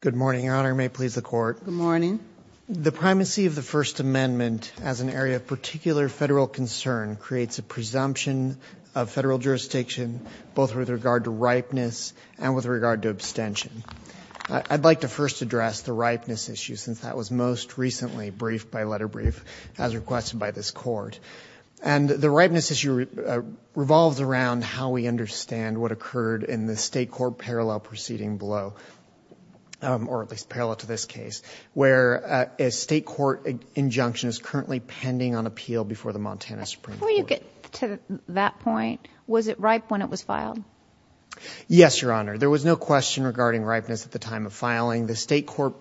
Good morning, Your Honor. May it please the court. Good morning. The primacy of the First Amendment as an area of particular federal concern creates a presumption of federal jurisdiction both with regard to ripeness and with regard to abstention. I'd like to first address the ripeness issue since that was most recently briefed by letter brief as requested by this court and the ripeness issue revolves around how we understand what occurred in the state court parallel proceeding below or at least parallel to this case where a state court injunction is currently pending on appeal before the Montana Supreme Court. Before you get to that point, was it ripe when it was filed? Yes, Your Honor. There was no question regarding ripeness at the time of filing. The state court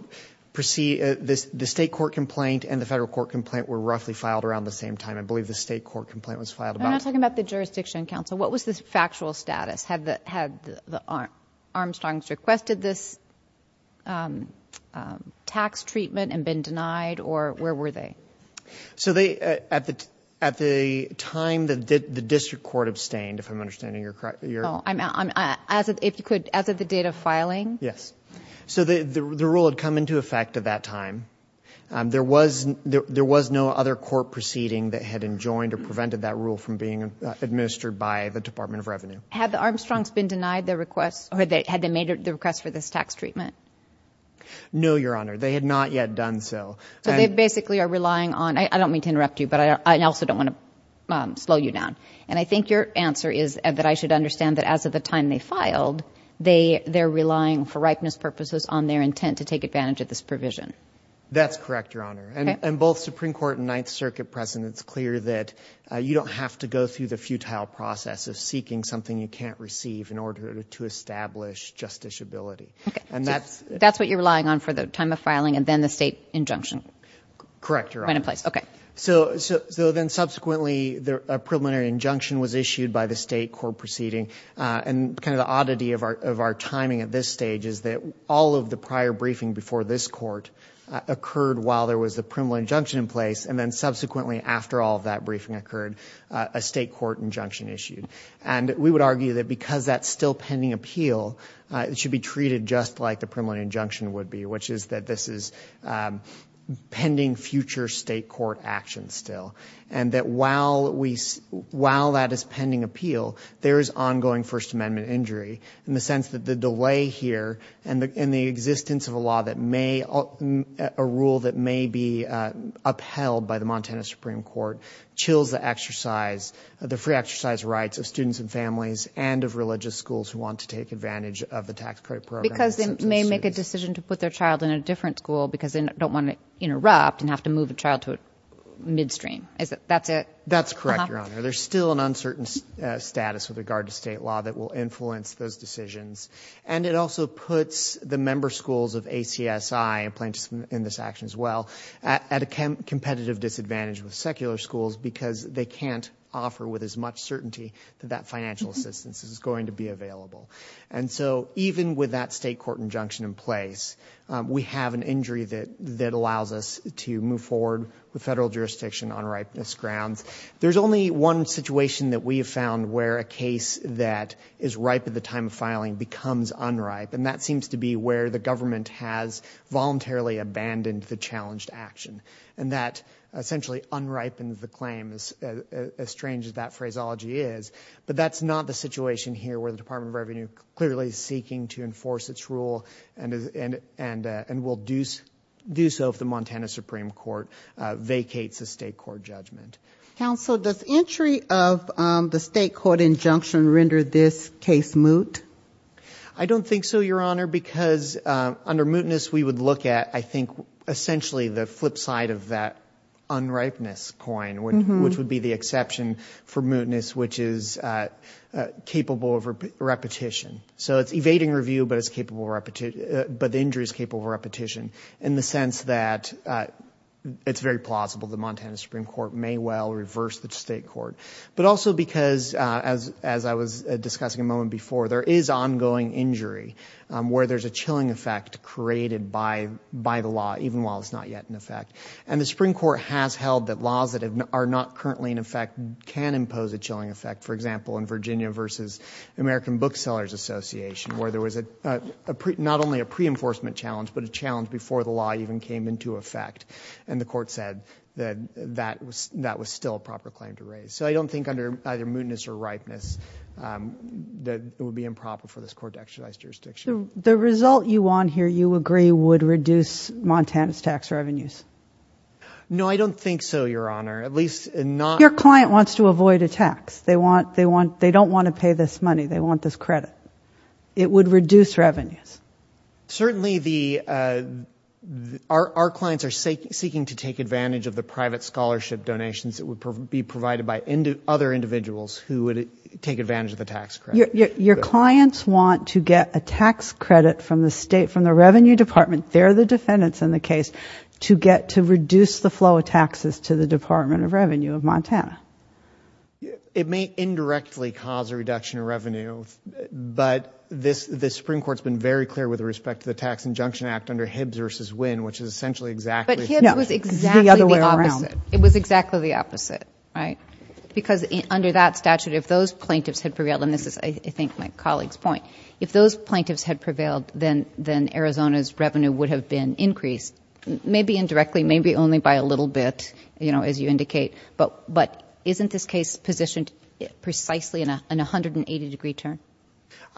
proceed, the state court complaint and the federal court complaint were roughly filed around the same time. I believe the state court complaint was filed about... I'm not talking about the Jurisdiction Council. What was the factual status? Had Armstrong's requested this tax treatment and been denied or where were they? So they at the at the time that the district court abstained if I'm understanding you're correct. I'm as if you could as of the date of filing. Yes, so the the rule had come into effect at that time. There was there was no other court proceeding that had enjoined or prevented that rule from being administered by the Department of Revenue. Had the Armstrong's been denied the request or they had they made the request for this tax treatment? No, Your Honor. They had not yet done so. So they basically are relying on... I don't mean to interrupt you, but I also don't want to slow you down. And I think your answer is that I should understand that as of the time they filed they they're relying for ripeness purposes on their intent to take advantage of this provision. That's correct, Your Honor. And both Supreme Court and Ninth Circuit precedent is clear that you don't have to go through the futile process of seeking something you can't receive in order to establish justiciability. And that's... That's what you're relying on for the time of filing and then the state injunction. Correct, Your Honor. Okay. So so then subsequently the preliminary injunction was issued by the state court proceeding. And kind of the oddity of our of our timing at this stage is that all of the prior briefing before this court occurred while there was the preliminary injunction in place and then subsequently after all of that briefing occurred, a state court injunction issued. And we would argue that because that's still pending appeal, it should be treated just like the preliminary injunction would be, which is that this is pending future state court action still. And that while we... while that is pending appeal, there is ongoing First Amendment injury in the sense that the delay here and the existence of a law that may... a rule that may be upheld by the Montana Supreme Court chills the exercise... the free exercise rights of students and families and of religious schools who want to take advantage of the tax credit program. Because they may make a decision to put their child in a different school because they don't want to interrupt and have to move a child to a midstream. Is that... that's it? That's correct, Your Honor. There's still an uncertain status with regard to state law that will influence those decisions. And it also puts the member schools of ACSI and plaintiffs in this action as well at a competitive disadvantage with secular schools because they can't offer with as much certainty that that financial assistance is going to be available. And so even with that state court injunction in place, we have an injury that that allows us to move forward with federal jurisdiction on ripeness grounds. There's only one situation that we have found where a case that is ripe at the time of filing becomes unripe. And that seems to be where the government has voluntarily abandoned the challenged action. And that essentially unripened the claim as strange as that phraseology is. But that's not the situation here where the Department of Revenue clearly is seeking to enforce its rule and is... and... and will do do so if the Montana Supreme Court vacates a state court judgment. Counsel, does entry of the state court injunction render this case moot? I don't think so, Your Honor, because under mootness, we would look at, I think, essentially the flip side of that unripeness coin, which would be the exception for mootness, which is capable of repetition. So it's evading review, but it's capable of repetition... but the injury is capable of repetition in the sense that it's very plausible the Montana Supreme Court may well reverse the state court. But also because, as... as I was discussing a moment before, there is ongoing injury where there's a chilling effect created by... by the law, even while it's not yet in effect. And the Supreme Court has held that laws that are not currently in effect can impose a chilling effect. For example, in Virginia versus American Booksellers Association, where there was a... before the law even came into effect, and the court said that that was... that was still a proper claim to raise. So I don't think under either mootness or ripeness that it would be improper for this court to exercise jurisdiction. The result you want here, you agree, would reduce Montana's tax revenues? No, I don't think so, Your Honor, at least not... Your client wants to avoid a tax. They want... they want... they don't want to pay this money. They want this credit. It would reduce revenues. Certainly, the... Our clients are seeking to take advantage of the private scholarship donations that would be provided by other individuals who would take advantage of the tax credit. Your clients want to get a tax credit from the state, from the Revenue Department, they're the defendants in the case, to get... to reduce the flow of taxes to the Department of Revenue of Montana. It may indirectly cause a reduction of revenue, but this... this Supreme Court's been very clear with respect to the Tax Injunction Act under Hibbs v. Wynn, which is essentially exactly... But Hibbs was exactly the opposite. It was exactly the opposite, right? Because under that statute, if those plaintiffs had prevailed, and this is, I think, my colleague's point, if those plaintiffs had prevailed, then... then Arizona's revenue would have been increased, maybe indirectly, maybe only by a little bit, you know, as you indicate, but... but isn't this case positioned precisely in a... in a 180-degree turn?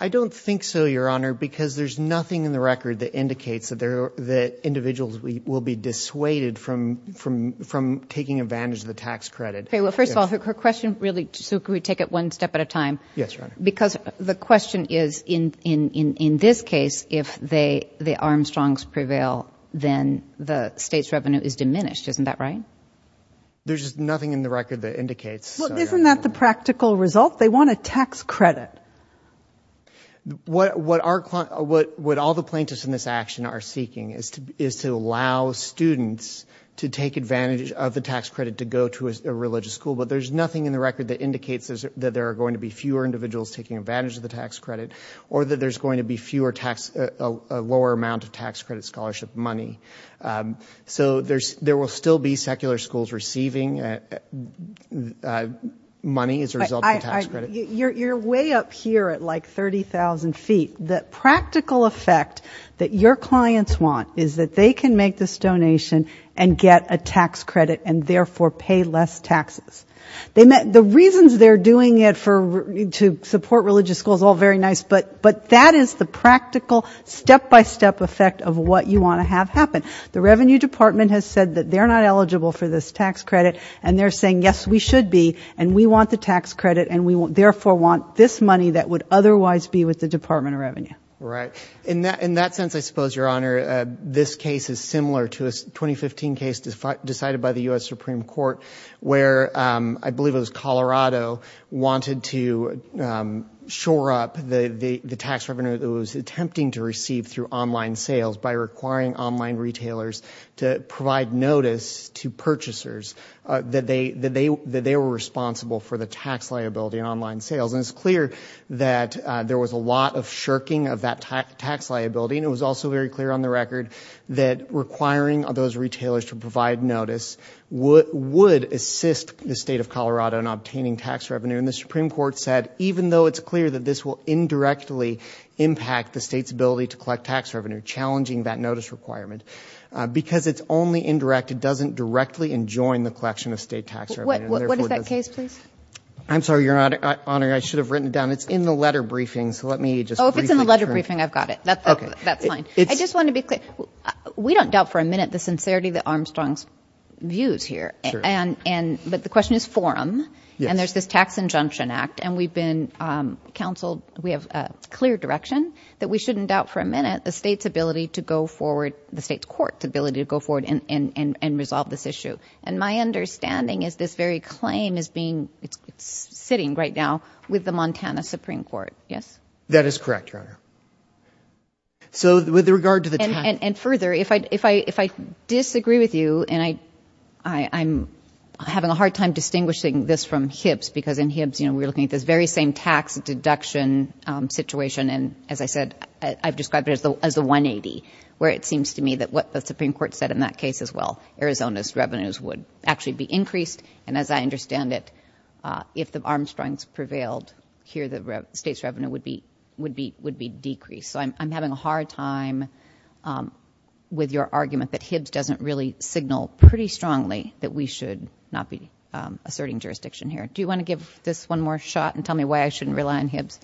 I don't think so, Your Honor, because there's nothing in the record that indicates that there... that individuals will be dissuaded from... from... from taking advantage of the tax credit. Okay, well, first of all, her question really... so can we take it one step at a time? Yes, Your Honor. Because the question is, in... in... in this case, if they... the Armstrongs prevail, then the state's revenue is diminished, isn't that right? There's nothing in the record that indicates... Well, isn't that the practical result? They want a tax credit. What... what our client... what... what all the plaintiffs in this action are seeking is to... is to allow students to take advantage of the tax credit to go to a religious school, but there's nothing in the record that indicates that there are going to be fewer individuals taking advantage of the tax credit, or that there's going to be fewer tax... a lower amount of tax credit scholarship money. So there's... there will still be secular schools receiving money as a result of the tax credit. I... I... you're... you're way up here at, like, 30,000 feet. The practical effect that your clients want is that they can make this donation and get a tax credit and therefore pay less taxes. They may... the reasons they're doing it for... to support religious schools, all very nice, but... but that is the practical, step-by-step effect of what you want to have happen. The Revenue Department has said that they're not eligible for this tax credit, and they're saying, yes, we should be, and we want the tax credit, and we therefore want this money that would otherwise be with the Department of Revenue. Right. In that... in that sense, I suppose, Your Honor, this case is similar to a 2015 case decided by the U.S. Supreme Court, where I believe it was Colorado wanted to shore up the... the... the tax revenue that it was attempting to receive through online sales by requiring online retailers to provide notice to purchasers that they... that they... that they were responsible for the tax liability in online sales. And it's clear that there was a lot of shirking of that tax liability, and it was also very clear on the record that requiring those retailers to provide notice would... would assist the state of Colorado in obtaining tax revenue. And the Supreme Court said, even though it's clear that this will indirectly impact the state's ability to collect tax revenue, challenging that notice requirement, because it's only indirect, it doesn't directly enjoin the collection of state tax revenue. What... what is that case, please? I'm sorry, Your Honor, I should have written it down. It's in the letter briefing, so let me just briefly... Oh, if it's in the letter briefing, I've got it. That's... that's fine. I just want to be clear. We don't doubt for a minute the sincerity that Armstrong's views here. And... and... but the question is forum, and there's this Tax Injunction Act, and we've been counseled... we have a clear direction that we shouldn't doubt for a minute the state's ability to go forward... the state's court's ability to go forward and... and... and resolve this issue. And my understanding is this very claim is being... it's... it's sitting right now with the Montana Supreme Court. Yes? That is correct, Your Honor. So, with regard to the tax... And... and further, if I... if I... if I disagree with you, and I... I... I'm having a hard time distinguishing this from Hibbs, because in Hibbs, you know, we're looking at this very same tax deduction situation, and as I said, I've described it as the... as the 180, where it seems to me that what the Supreme Court said in that case is, well, Arizona's revenues would actually be increased, and as I understand it, if the Armstrongs prevailed here, the state's revenue would be... would be... would be decreased. So I'm... I'm having a hard time with your argument that Hibbs doesn't really signal pretty strongly that we should not be asserting jurisdiction here. Do you want to give this one more shot and tell me why I shouldn't rely on Hibbs?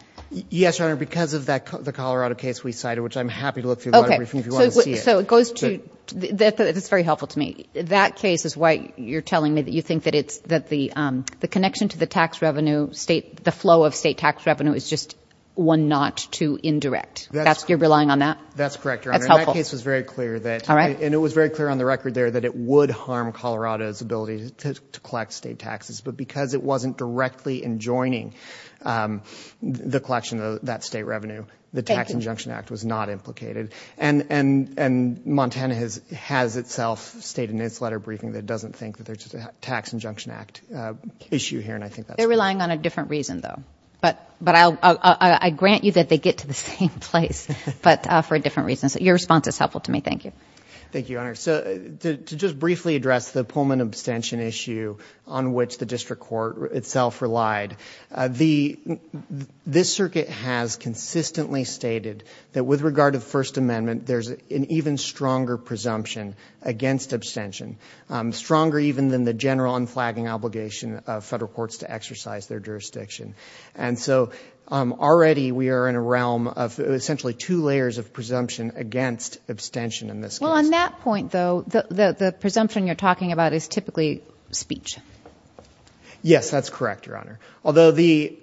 Yes, Your Honor, because of that... the Colorado case we cited, which I'm happy to look through the audit briefing if you want to see it. Okay. So... so it goes to... that... that's very helpful to me. That case is why you're telling me that you think that it's... that the... the connection to the tax revenue state... the flow of state tax revenue is just one not too indirect. That's... You're relying on that? That's correct, Your Honor. That's helpful. And that case was very clear that... All right. And it was very clear on the record there that it would harm Colorado's ability to... to collect state taxes, but because it wasn't directly enjoining the collection of that state revenue... Thank you. ...the Tax Injunction Act was not implicated. And... and... and Montana has... has itself stated in its letter briefing that it doesn't think that there's a Tax Injunction Act issue here, and I think that's... They're relying on a different reason, though. But... but I'll... I'll... I grant you that they get to the same place, but for a different reason. So your response is helpful to me. Thank you. Thank you, Your Honor. So to just briefly address the Pullman abstention issue on which the district court itself relied, the... this circuit has consistently stated that with regard to the First Amendment, there's an even stronger presumption against abstention, stronger even than the general unflagging obligation of federal courts to exercise their jurisdiction. And so already we are in a realm of essentially two layers of presumption against abstention in this case. Well, on that point, though, the... the... the presumption you're talking about is typically speech. Yes, that's correct, Your Honor. Although the...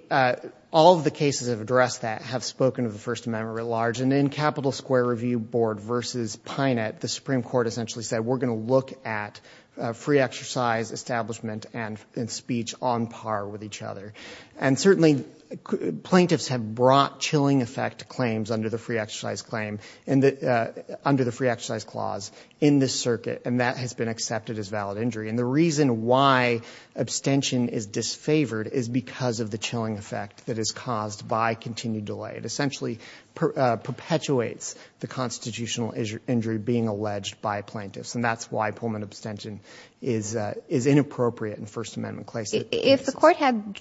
all of the cases that have addressed that have spoken of the First Amendment at large, and in Capital Square Review Board versus Pinett, the Supreme Court essentially said, we're going to look at free exercise, establishment, and... and speech on par with each other. And certainly plaintiffs have brought chilling effect claims under the free exercise claim in the... under the free exercise clause in this circuit, and that has been accepted as valid injury. And the reason why abstention is disfavored is because of the chilling effect that is caused by continued delay. It essentially perpetuates the constitutional injury being alleged by plaintiffs, and that's why Pullman abstention is... is inappropriate in First Amendment cases. If the court had...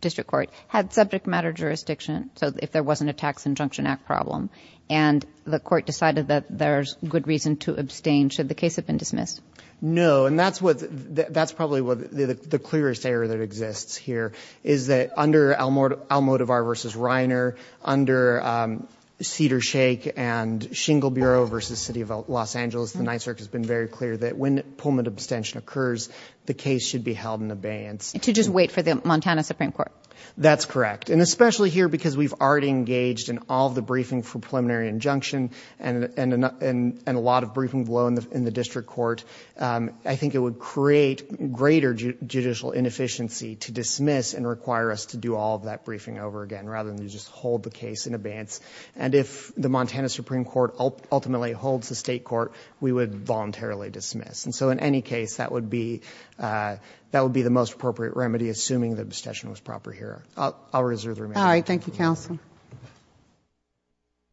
district court had subject matter jurisdiction, so if there wasn't a tax injunction act problem, and the court decided that there's good reason to abstain, should the case have been dismissed? No, and that's what... that's probably what the... the clearest error that exists here is that under Almodovar versus Reiner, under Cedars-Shake and Shingle Bureau versus City of Los Angeles, the NYSERC has been very clear that when Pullman abstention occurs, the case should be held in abeyance. To just wait for the Montana Supreme Court. That's correct, and especially here because we've already engaged in all the briefing for preliminary injunction, and... and a lot of briefing below in the... in the district court, I think it would create greater judicial inefficiency to dismiss and require us to do all of that briefing over again, rather than to just hold the case in abeyance. And if the Montana Supreme Court ultimately holds the state court, we would voluntarily dismiss. And so in any case, that would be... that would be the most appropriate remedy, assuming the abstention was proper here. I'll... I'll reserve the remainder. All right, thank you, counsel.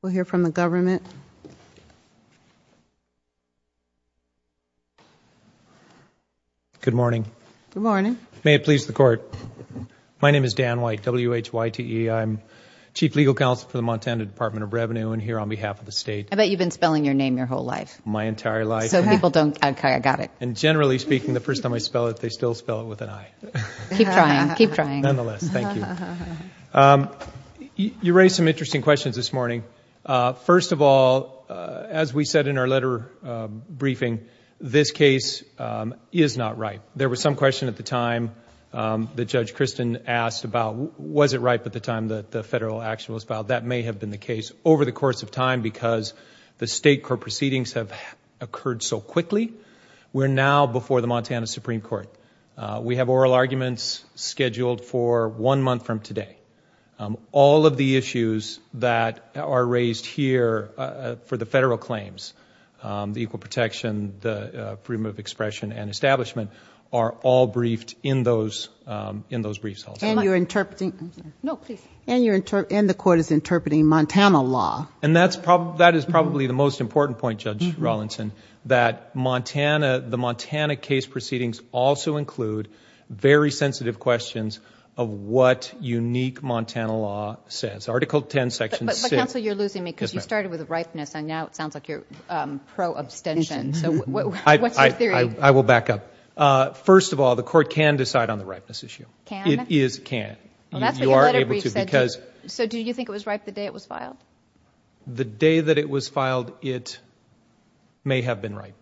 We'll hear from the government. Good morning. May it please the court. My name is Dan White, W-H-Y-T-E. I'm Chief Legal Counsel for the Montana Department of Revenue and here on behalf of the state. I bet you've been spelling your name your whole life. My entire life. So people don't... okay, I got it. And generally speaking, the first time I spell it, they still spell it with an I. Keep trying, keep trying. Nonetheless, thank you. You raised some interesting questions this morning. First of all, as we said in our letter briefing, this case is not ripe. There was some question at the time that Judge Christin asked about, was it ripe at the time that the federal action was filed? That may have been the case over the course of time because the state court proceedings have occurred so quickly. We're now before the Montana Supreme Court. We have oral arguments scheduled for one month from today. All of the issues that are raised here for the federal claims, the equal protection, the freedom of expression and establishment are all briefed in those briefs also. And you're interpreting... No, please. And the court is interpreting Montana law. And that is probably the most important point, Judge Rawlinson, that the Montana case proceedings also include very sensitive questions of what unique Montana law says. Article 10, Section 6. But counsel, you're losing me because you started with ripeness and now it sounds like you're pro-abstention. So what's your theory? I will back up. First of all, the court can decide on the ripeness issue. Can it? It is can. Well, that's what your letter brief said. You are able to because... So do you think it was ripe the day it was filed? The day that it was filed, it may have been ripe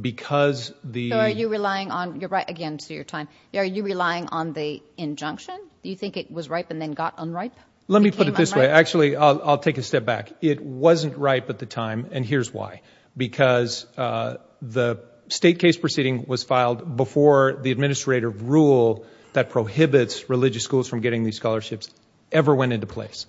because the... So are you relying on... Again, to your time. Are you relying on the injunction? Do you think it was ripe and then got unripe? Let me put it this way. Actually, I'll take a step back. It wasn't ripe at the time, and here's why. Because the state case proceeding was filed before the administrative rule that prohibits religious schools from getting these scholarships ever went into place.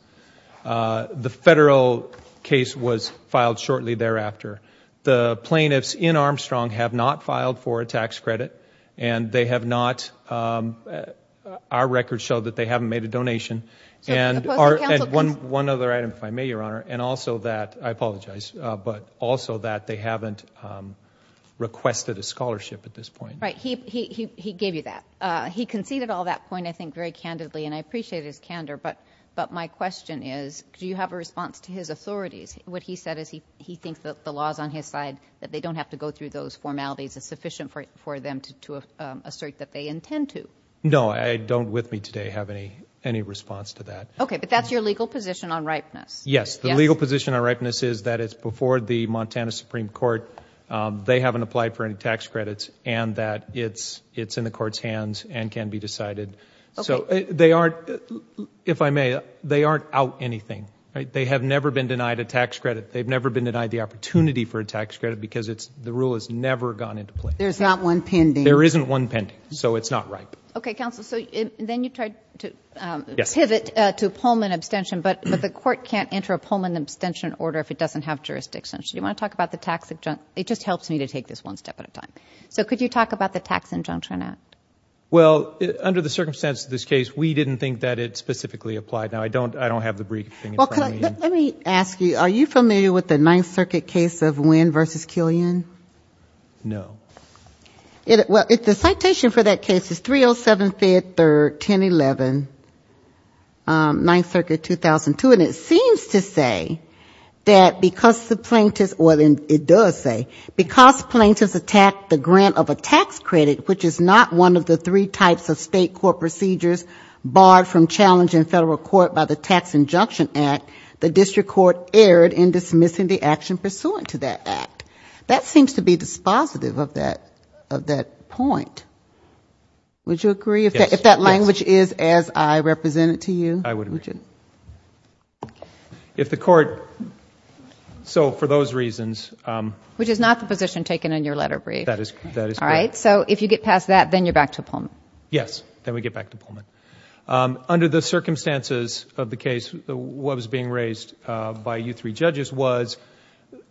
The federal case was filed shortly thereafter. The plaintiffs in Armstrong have not filed for a tax credit, and they have not... Our records show that they haven't made a donation. One other item, if I may, Your Honor, and also that, I apologize, but also that they haven't requested a scholarship at this point. Right. He gave you that. He conceded all that point, I think, very candidly, and I appreciate his candor, but my question is do you have a response to his authorities? What he said is he thinks that the law is on his side, that they don't have to go through those formalities. It's sufficient for them to assert that they intend to. No, I don't with me today have any response to that. Okay, but that's your legal position on ripeness. Yes. The legal position on ripeness is that it's before the Montana Supreme Court, they haven't applied for any tax credits, and that it's in the court's hands and can be decided. So they aren't, if I may, they aren't out anything. They have never been denied a tax credit. They've never been denied the opportunity for a tax credit because the rule has never gone into place. There's not one pending. There isn't one pending, so it's not ripe. Okay, counsel, so then you tried to pivot to Pullman abstention, but the court can't enter a Pullman abstention order if it doesn't have jurisdiction. Do you want to talk about the tax? It just helps me to take this one step at a time. So could you talk about the tax injunction? Well, under the circumstances of this case, we didn't think that it specifically applied. Now, I don't have the briefing in front of me. Well, let me ask you, are you familiar with the Ninth Circuit case of Winn v. Killian? No. Well, the citation for that case is 307-5-3-1011, Ninth Circuit, 2002, and it seems to say that because the plaintiffs, well, it does say, because plaintiffs attacked the grant of a tax credit, which is not one of the three types of state court procedures barred from challenging federal court by the Tax Injunction Act, the district court erred in dismissing the action pursuant to that act. That seems to be dispositive of that point. Would you agree? Yes. If that language is as I represent it to you? I would agree. Would you? If the court... So for those reasons... Which is not the position taken in your letter brief. That is correct. All right, so if you get past that, then you're back to Pullman. Yes, then we get back to Pullman. Under the circumstances of the case, what was being raised by you three judges was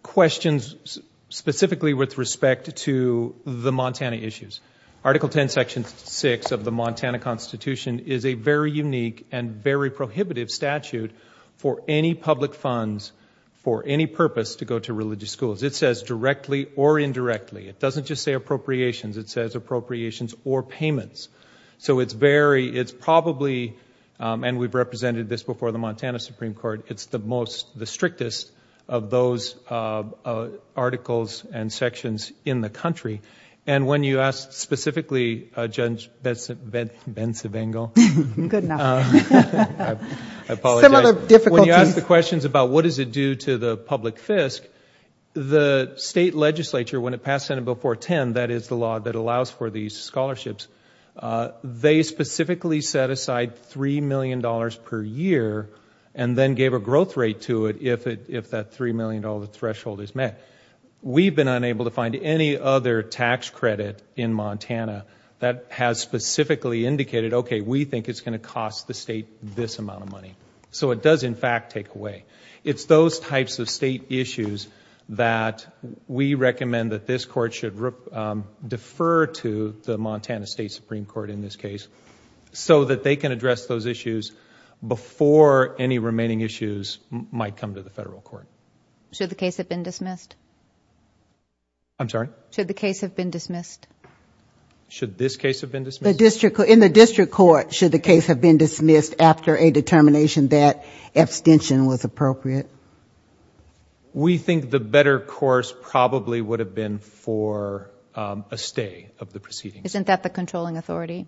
questions specifically with respect to the Montana issues. Article 10, Section 6 of the Montana Constitution is a very unique and very prohibitive statute for any public funds, for any purpose to go to religious schools. It says directly or indirectly. It doesn't just say appropriations. It says appropriations or payments. So it's very... It's probably, and we've represented this before, the Montana Supreme Court, it's the strictest of those articles and sections in the country. And when you ask specifically, Judge Bencivengo... Good enough. I apologize. Some other difficulties. When you ask the questions about what does it do to the public fisc, the state legislature, when it passed Senate Bill 410, that is the law that allows for these scholarships, they specifically set aside $3 million per year and then gave a growth rate to it if that $3 million threshold is met. We've been unable to find any other tax credit in Montana that has specifically indicated, okay, we think it's going to cost the state this amount of money. So it does, in fact, take away. It's those types of state issues that we recommend that this court should defer to, the Montana State Supreme Court in this case, so that they can address those issues before any remaining issues might come to the federal court. Should the case have been dismissed? I'm sorry? Should the case have been dismissed? Should this case have been dismissed? In the district court, should the case have been dismissed after a determination that abstention was appropriate? We think the better course probably would have been for a stay of the proceedings. Isn't that the controlling authority?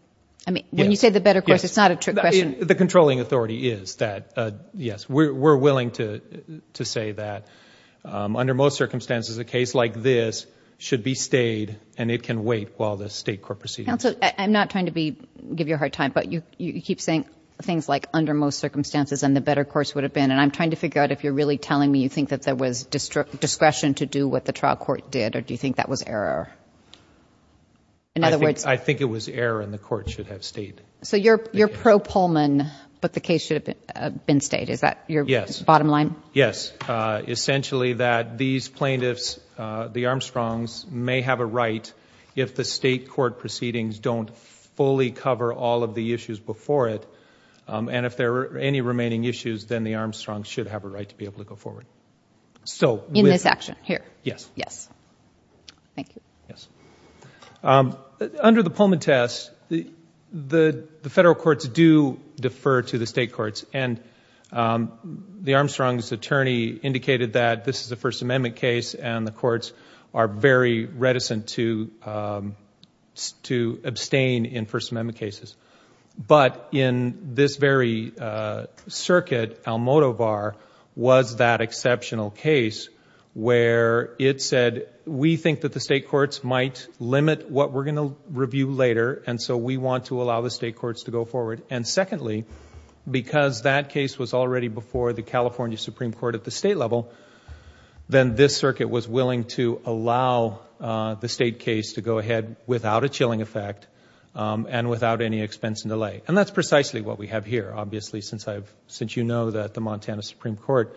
When you say the better course, it's not a trick question. The controlling authority is that, yes. We're willing to say that under most circumstances, a case like this should be stayed and it can wait while the state court proceeds. Counsel, I'm not trying to give you a hard time, but you keep saying things like under most circumstances and the better course would have been, and I'm trying to figure out if you're really telling me you think that there was discretion to do what the trial court did or do you think that was error? I think it was error and the court should have stayed. So you're pro-Pullman, but the case should have been stayed. Is that your bottom line? Yes. Essentially that these plaintiffs, the Armstrongs, may have a right if the state court proceedings don't fully cover all of the issues before it and if there are any remaining issues, then the Armstrongs should have a right to be able to go forward. In this action here? Yes. Yes. Thank you. Yes. Under the Pullman test, the federal courts do defer to the state courts and the Armstrongs' attorney indicated that this is a First Amendment case and the courts are very reticent to abstain in First Amendment cases. But in this very circuit, Almodovar was that exceptional case where it said we think that the state courts might limit what we're going to review later and so we want to allow the state courts to go forward. Secondly, because that case was already before the California Supreme Court at the state level, then this circuit was willing to allow the state case to go ahead without a chilling effect and without any expense and delay. That's precisely what we have here. Obviously, since you know that the Montana Supreme Court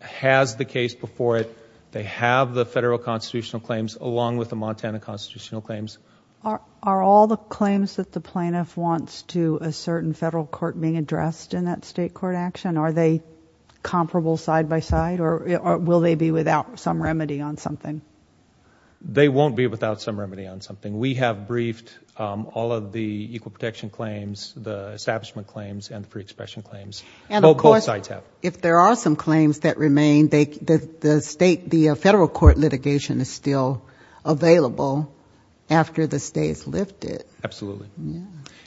has the case before it, they have the federal constitutional claims along with the Montana constitutional claims. Are all the claims that the plaintiff wants to assert in federal court being addressed in that state court action, are they comparable side by side or will they be without some remedy on something? They won't be without some remedy on something. We have briefed all of the equal protection claims, the establishment claims, and the free expression claims. Both sides have. And of course, if there are some claims that remain, the federal court litigation is still available after the state is lifted. Absolutely.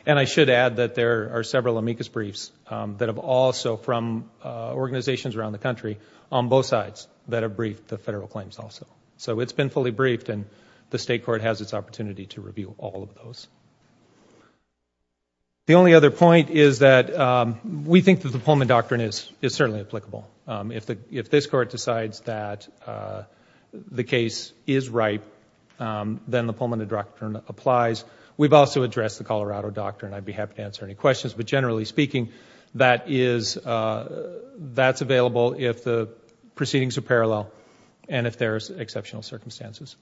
And I should add that there are several amicus briefs that have also from organizations around the country on both sides that have briefed the federal claims also. So it's been fully briefed and the state court has its opportunity to review all of those. The only other point is that we think that the Pullman Doctrine is certainly applicable. If this court decides that the case is ripe, then the Pullman Doctrine applies. We've also addressed the Colorado Doctrine. I'd be happy to answer any questions. But generally speaking, that's available if the proceedings are parallel and if there are exceptional circumstances.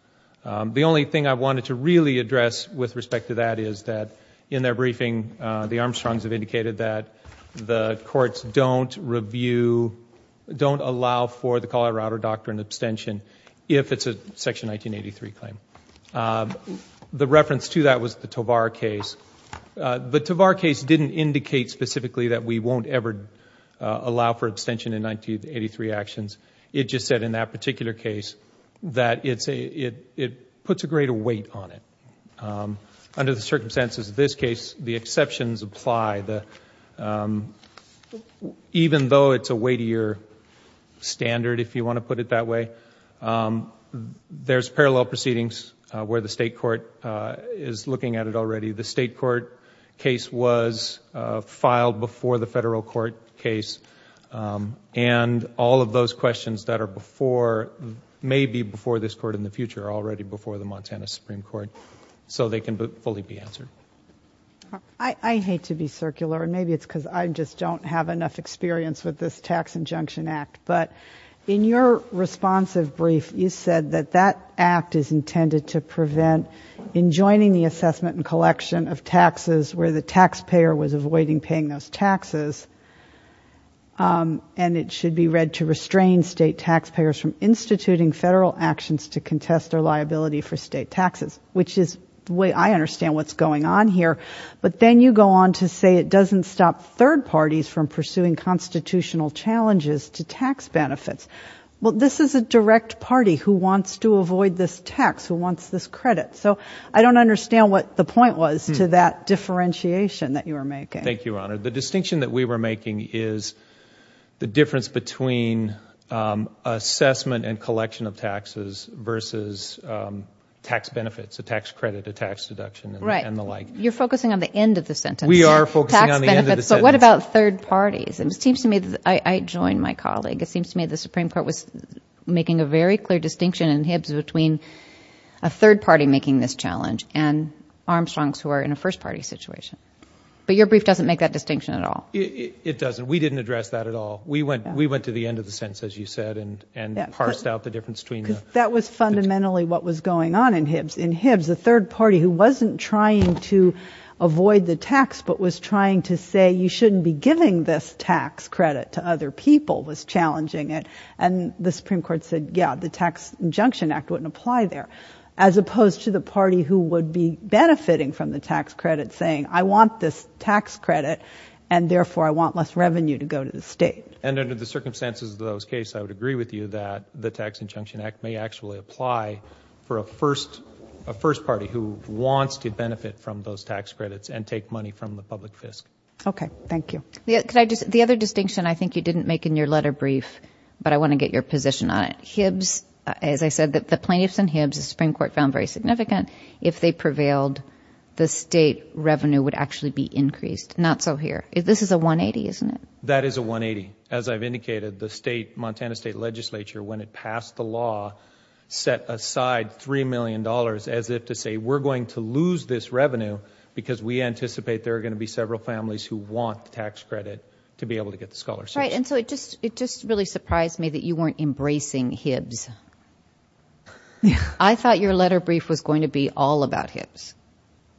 The only thing I wanted to really address with respect to that is that in their briefing, the Armstrongs have indicated that the courts don't review, don't allow for the Colorado Doctrine abstention if it's a Section 1983 claim. The reference to that was the Tovar case. The Tovar case didn't indicate specifically that we won't ever allow for abstention in 1983 actions. It just said in that particular case that it puts a greater weight on it. Under the circumstances of this case, the exceptions apply. Even though it's a weightier standard, if you want to put it that way, there's parallel proceedings where the state court is looking at it already. The state court case was filed before the federal court case and all of those questions that may be before this court in the future are already before the Montana Supreme Court, so they can fully be answered. I hate to be circular, and maybe it's because I just don't have enough experience with this tax injunction act, but in your responsive brief, you said that that act is intended to prevent, in joining the assessment and collection of taxes where the taxpayer was avoiding paying those taxes, and it should be read to restrain state taxpayers from instituting federal actions to contest their liability for state taxes, which is the way I understand what's going on here. But then you go on to say it doesn't stop third parties from pursuing constitutional challenges to tax benefits. Well, this is a direct party who wants to avoid this tax, who wants this credit. So I don't understand what the point was to that differentiation that you were making. Thank you, Your Honor. The distinction that we were making is the difference between assessment and collection of taxes versus tax benefits, a tax credit, a tax deduction, and the like. You're focusing on the end of the sentence. We are focusing on the end of the sentence. So what about third parties? It seems to me that I joined my colleague. It seems to me the Supreme Court was making a very clear distinction in Hibbs between a third party making this challenge and Armstrongs who are in a first-party situation. But your brief doesn't make that distinction at all. It doesn't. We didn't address that at all. We went to the end of the sentence, as you said, and parsed out the difference between the two. Because that was fundamentally what was going on in Hibbs. In Hibbs, the third party who wasn't trying to avoid the tax but was trying to say you shouldn't be giving this tax credit to other people was challenging it. And the Supreme Court said, yeah, the Tax Injunction Act wouldn't apply there, as opposed to the party who would be benefiting from the tax credit saying I want this tax credit, and therefore I want less revenue to go to the state. And under the circumstances of those cases, I would agree with you that the Tax Injunction Act may actually apply for a first party who wants to benefit from those tax credits and take money from the public fisc. Okay, thank you. The other distinction I think you didn't make in your letter brief, but I want to get your position on it. Hibbs, as I said, the plaintiffs in Hibbs, the Supreme Court found very significant. If they prevailed, the state revenue would actually be increased. Not so here. This is a 180, isn't it? That is a 180. As I've indicated, the Montana State Legislature, when it passed the law, set aside $3 million as if to say we're going to lose this revenue because we anticipate there are going to be several families who want the tax credit to be able to get the scholarship. That's right. And so it just really surprised me that you weren't embracing Hibbs. I thought your letter brief was going to be all about Hibbs,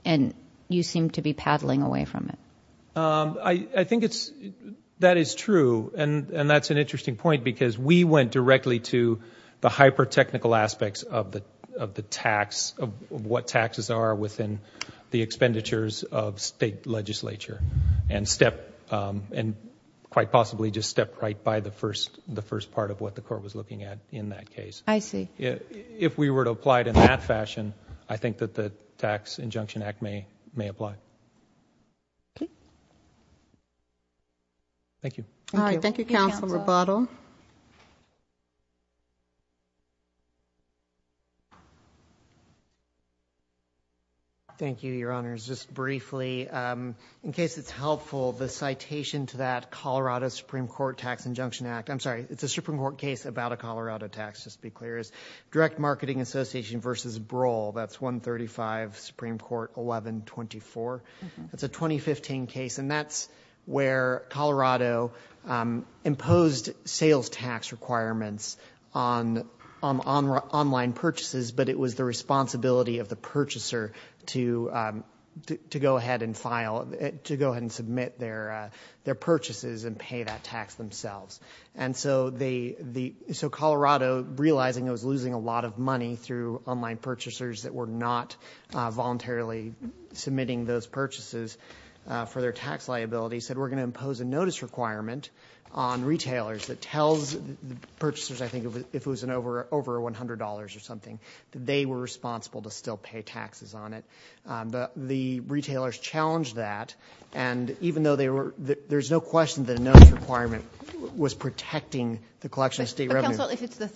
and you seem to be paddling away from it. I think that is true, and that's an interesting point, because we went directly to the hyper-technical aspects of the tax, of what taxes are within the expenditures of state legislature and quite possibly just stepped right by the first part of what the court was looking at in that case. I see. If we were to apply it in that fashion, I think that the Tax Injunction Act may apply. Thank you. All right. Thank you, Counsel Roboto. Thank you, Your Honors. Just briefly, in case it's helpful, the citation to that Colorado Supreme Court Tax Injunction Act, I'm sorry, it's a Supreme Court case about a Colorado tax, just to be clear, is Direct Marketing Association v. Broll. That's 135 Supreme Court 1124. That's a 2015 case, and that's where Colorado imposed sales tax requirements on online purchases, but it was the responsibility of the purchaser to go ahead and submit their purchases and pay that tax themselves. So Colorado, realizing it was losing a lot of money through online purchasers that were not voluntarily submitting those purchases for their tax liability, said we're going to impose a notice requirement on retailers that tells the purchasers, I think, if it was over $100 or something, that they were responsible to still pay taxes on it. But the retailers challenged that, and even though there's no question that a notice requirement was protecting the collection of state revenue. But, Counsel,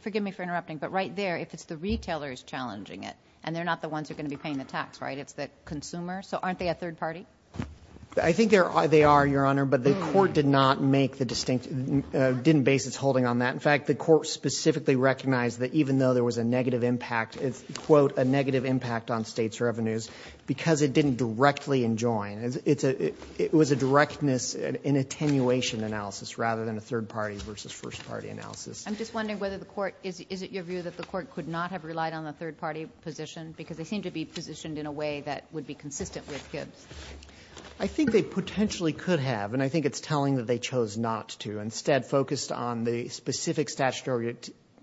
forgive me for interrupting, but right there, if it's the retailers challenging it, and they're not the ones who are going to be paying the tax, right? It's the consumer. So aren't they a third party? I think they are, Your Honor, but the court didn't base its holding on that. In fact, the court specifically recognized that even though there was a negative impact, quote, a negative impact on states' revenues, because it didn't directly enjoin. It was a directness in attenuation analysis rather than a third party versus first party analysis. I'm just wondering whether the court, is it your view that the court could not have relied on the third party position? Because they seem to be positioned in a way that would be consistent with Gibbs. I think they potentially could have, and I think it's telling that they chose not to. Instead, focused on the specific statutory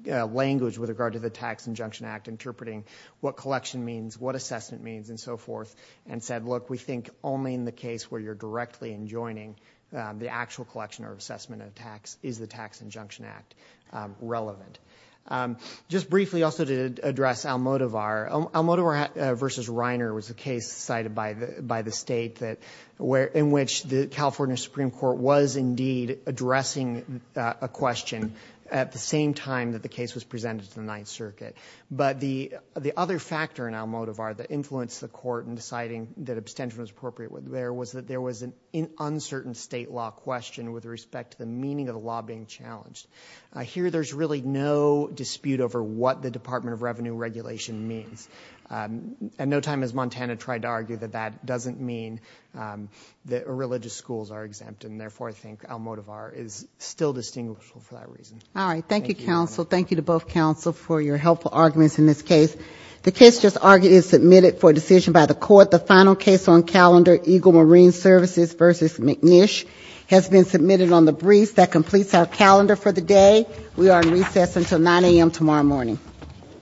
language with regard to the Tax Injunction Act, interpreting what collection means, what assessment means, and so forth, and said, look, we think only in the case where you're directly enjoining the actual collection or assessment of tax is the Tax Injunction Act relevant. Just briefly, also to address Almodovar, Almodovar v. Reiner was a case cited by the state in which the California Supreme Court was indeed addressing a question at the same time that the case was presented to the Ninth Circuit. But the other factor in Almodovar that influenced the court in deciding that abstention was appropriate there was that there was an uncertain state law question with respect to the meaning of the law being challenged. Here, there's really no dispute over what the Department of Revenue regulation means. And no time has Montana tried to argue that that doesn't mean that religious schools are exempt, and therefore I think Almodovar is still distinguishable for that reason. All right. Thank you, counsel. Thank you to both counsel for your helpful arguments in this case. The case just argued is submitted for decision by the court. The final case on calendar, Eagle Marine Services v. McNish, has been submitted on the briefs. That completes our calendar for the day. We are in recess until 9 a.m. tomorrow morning.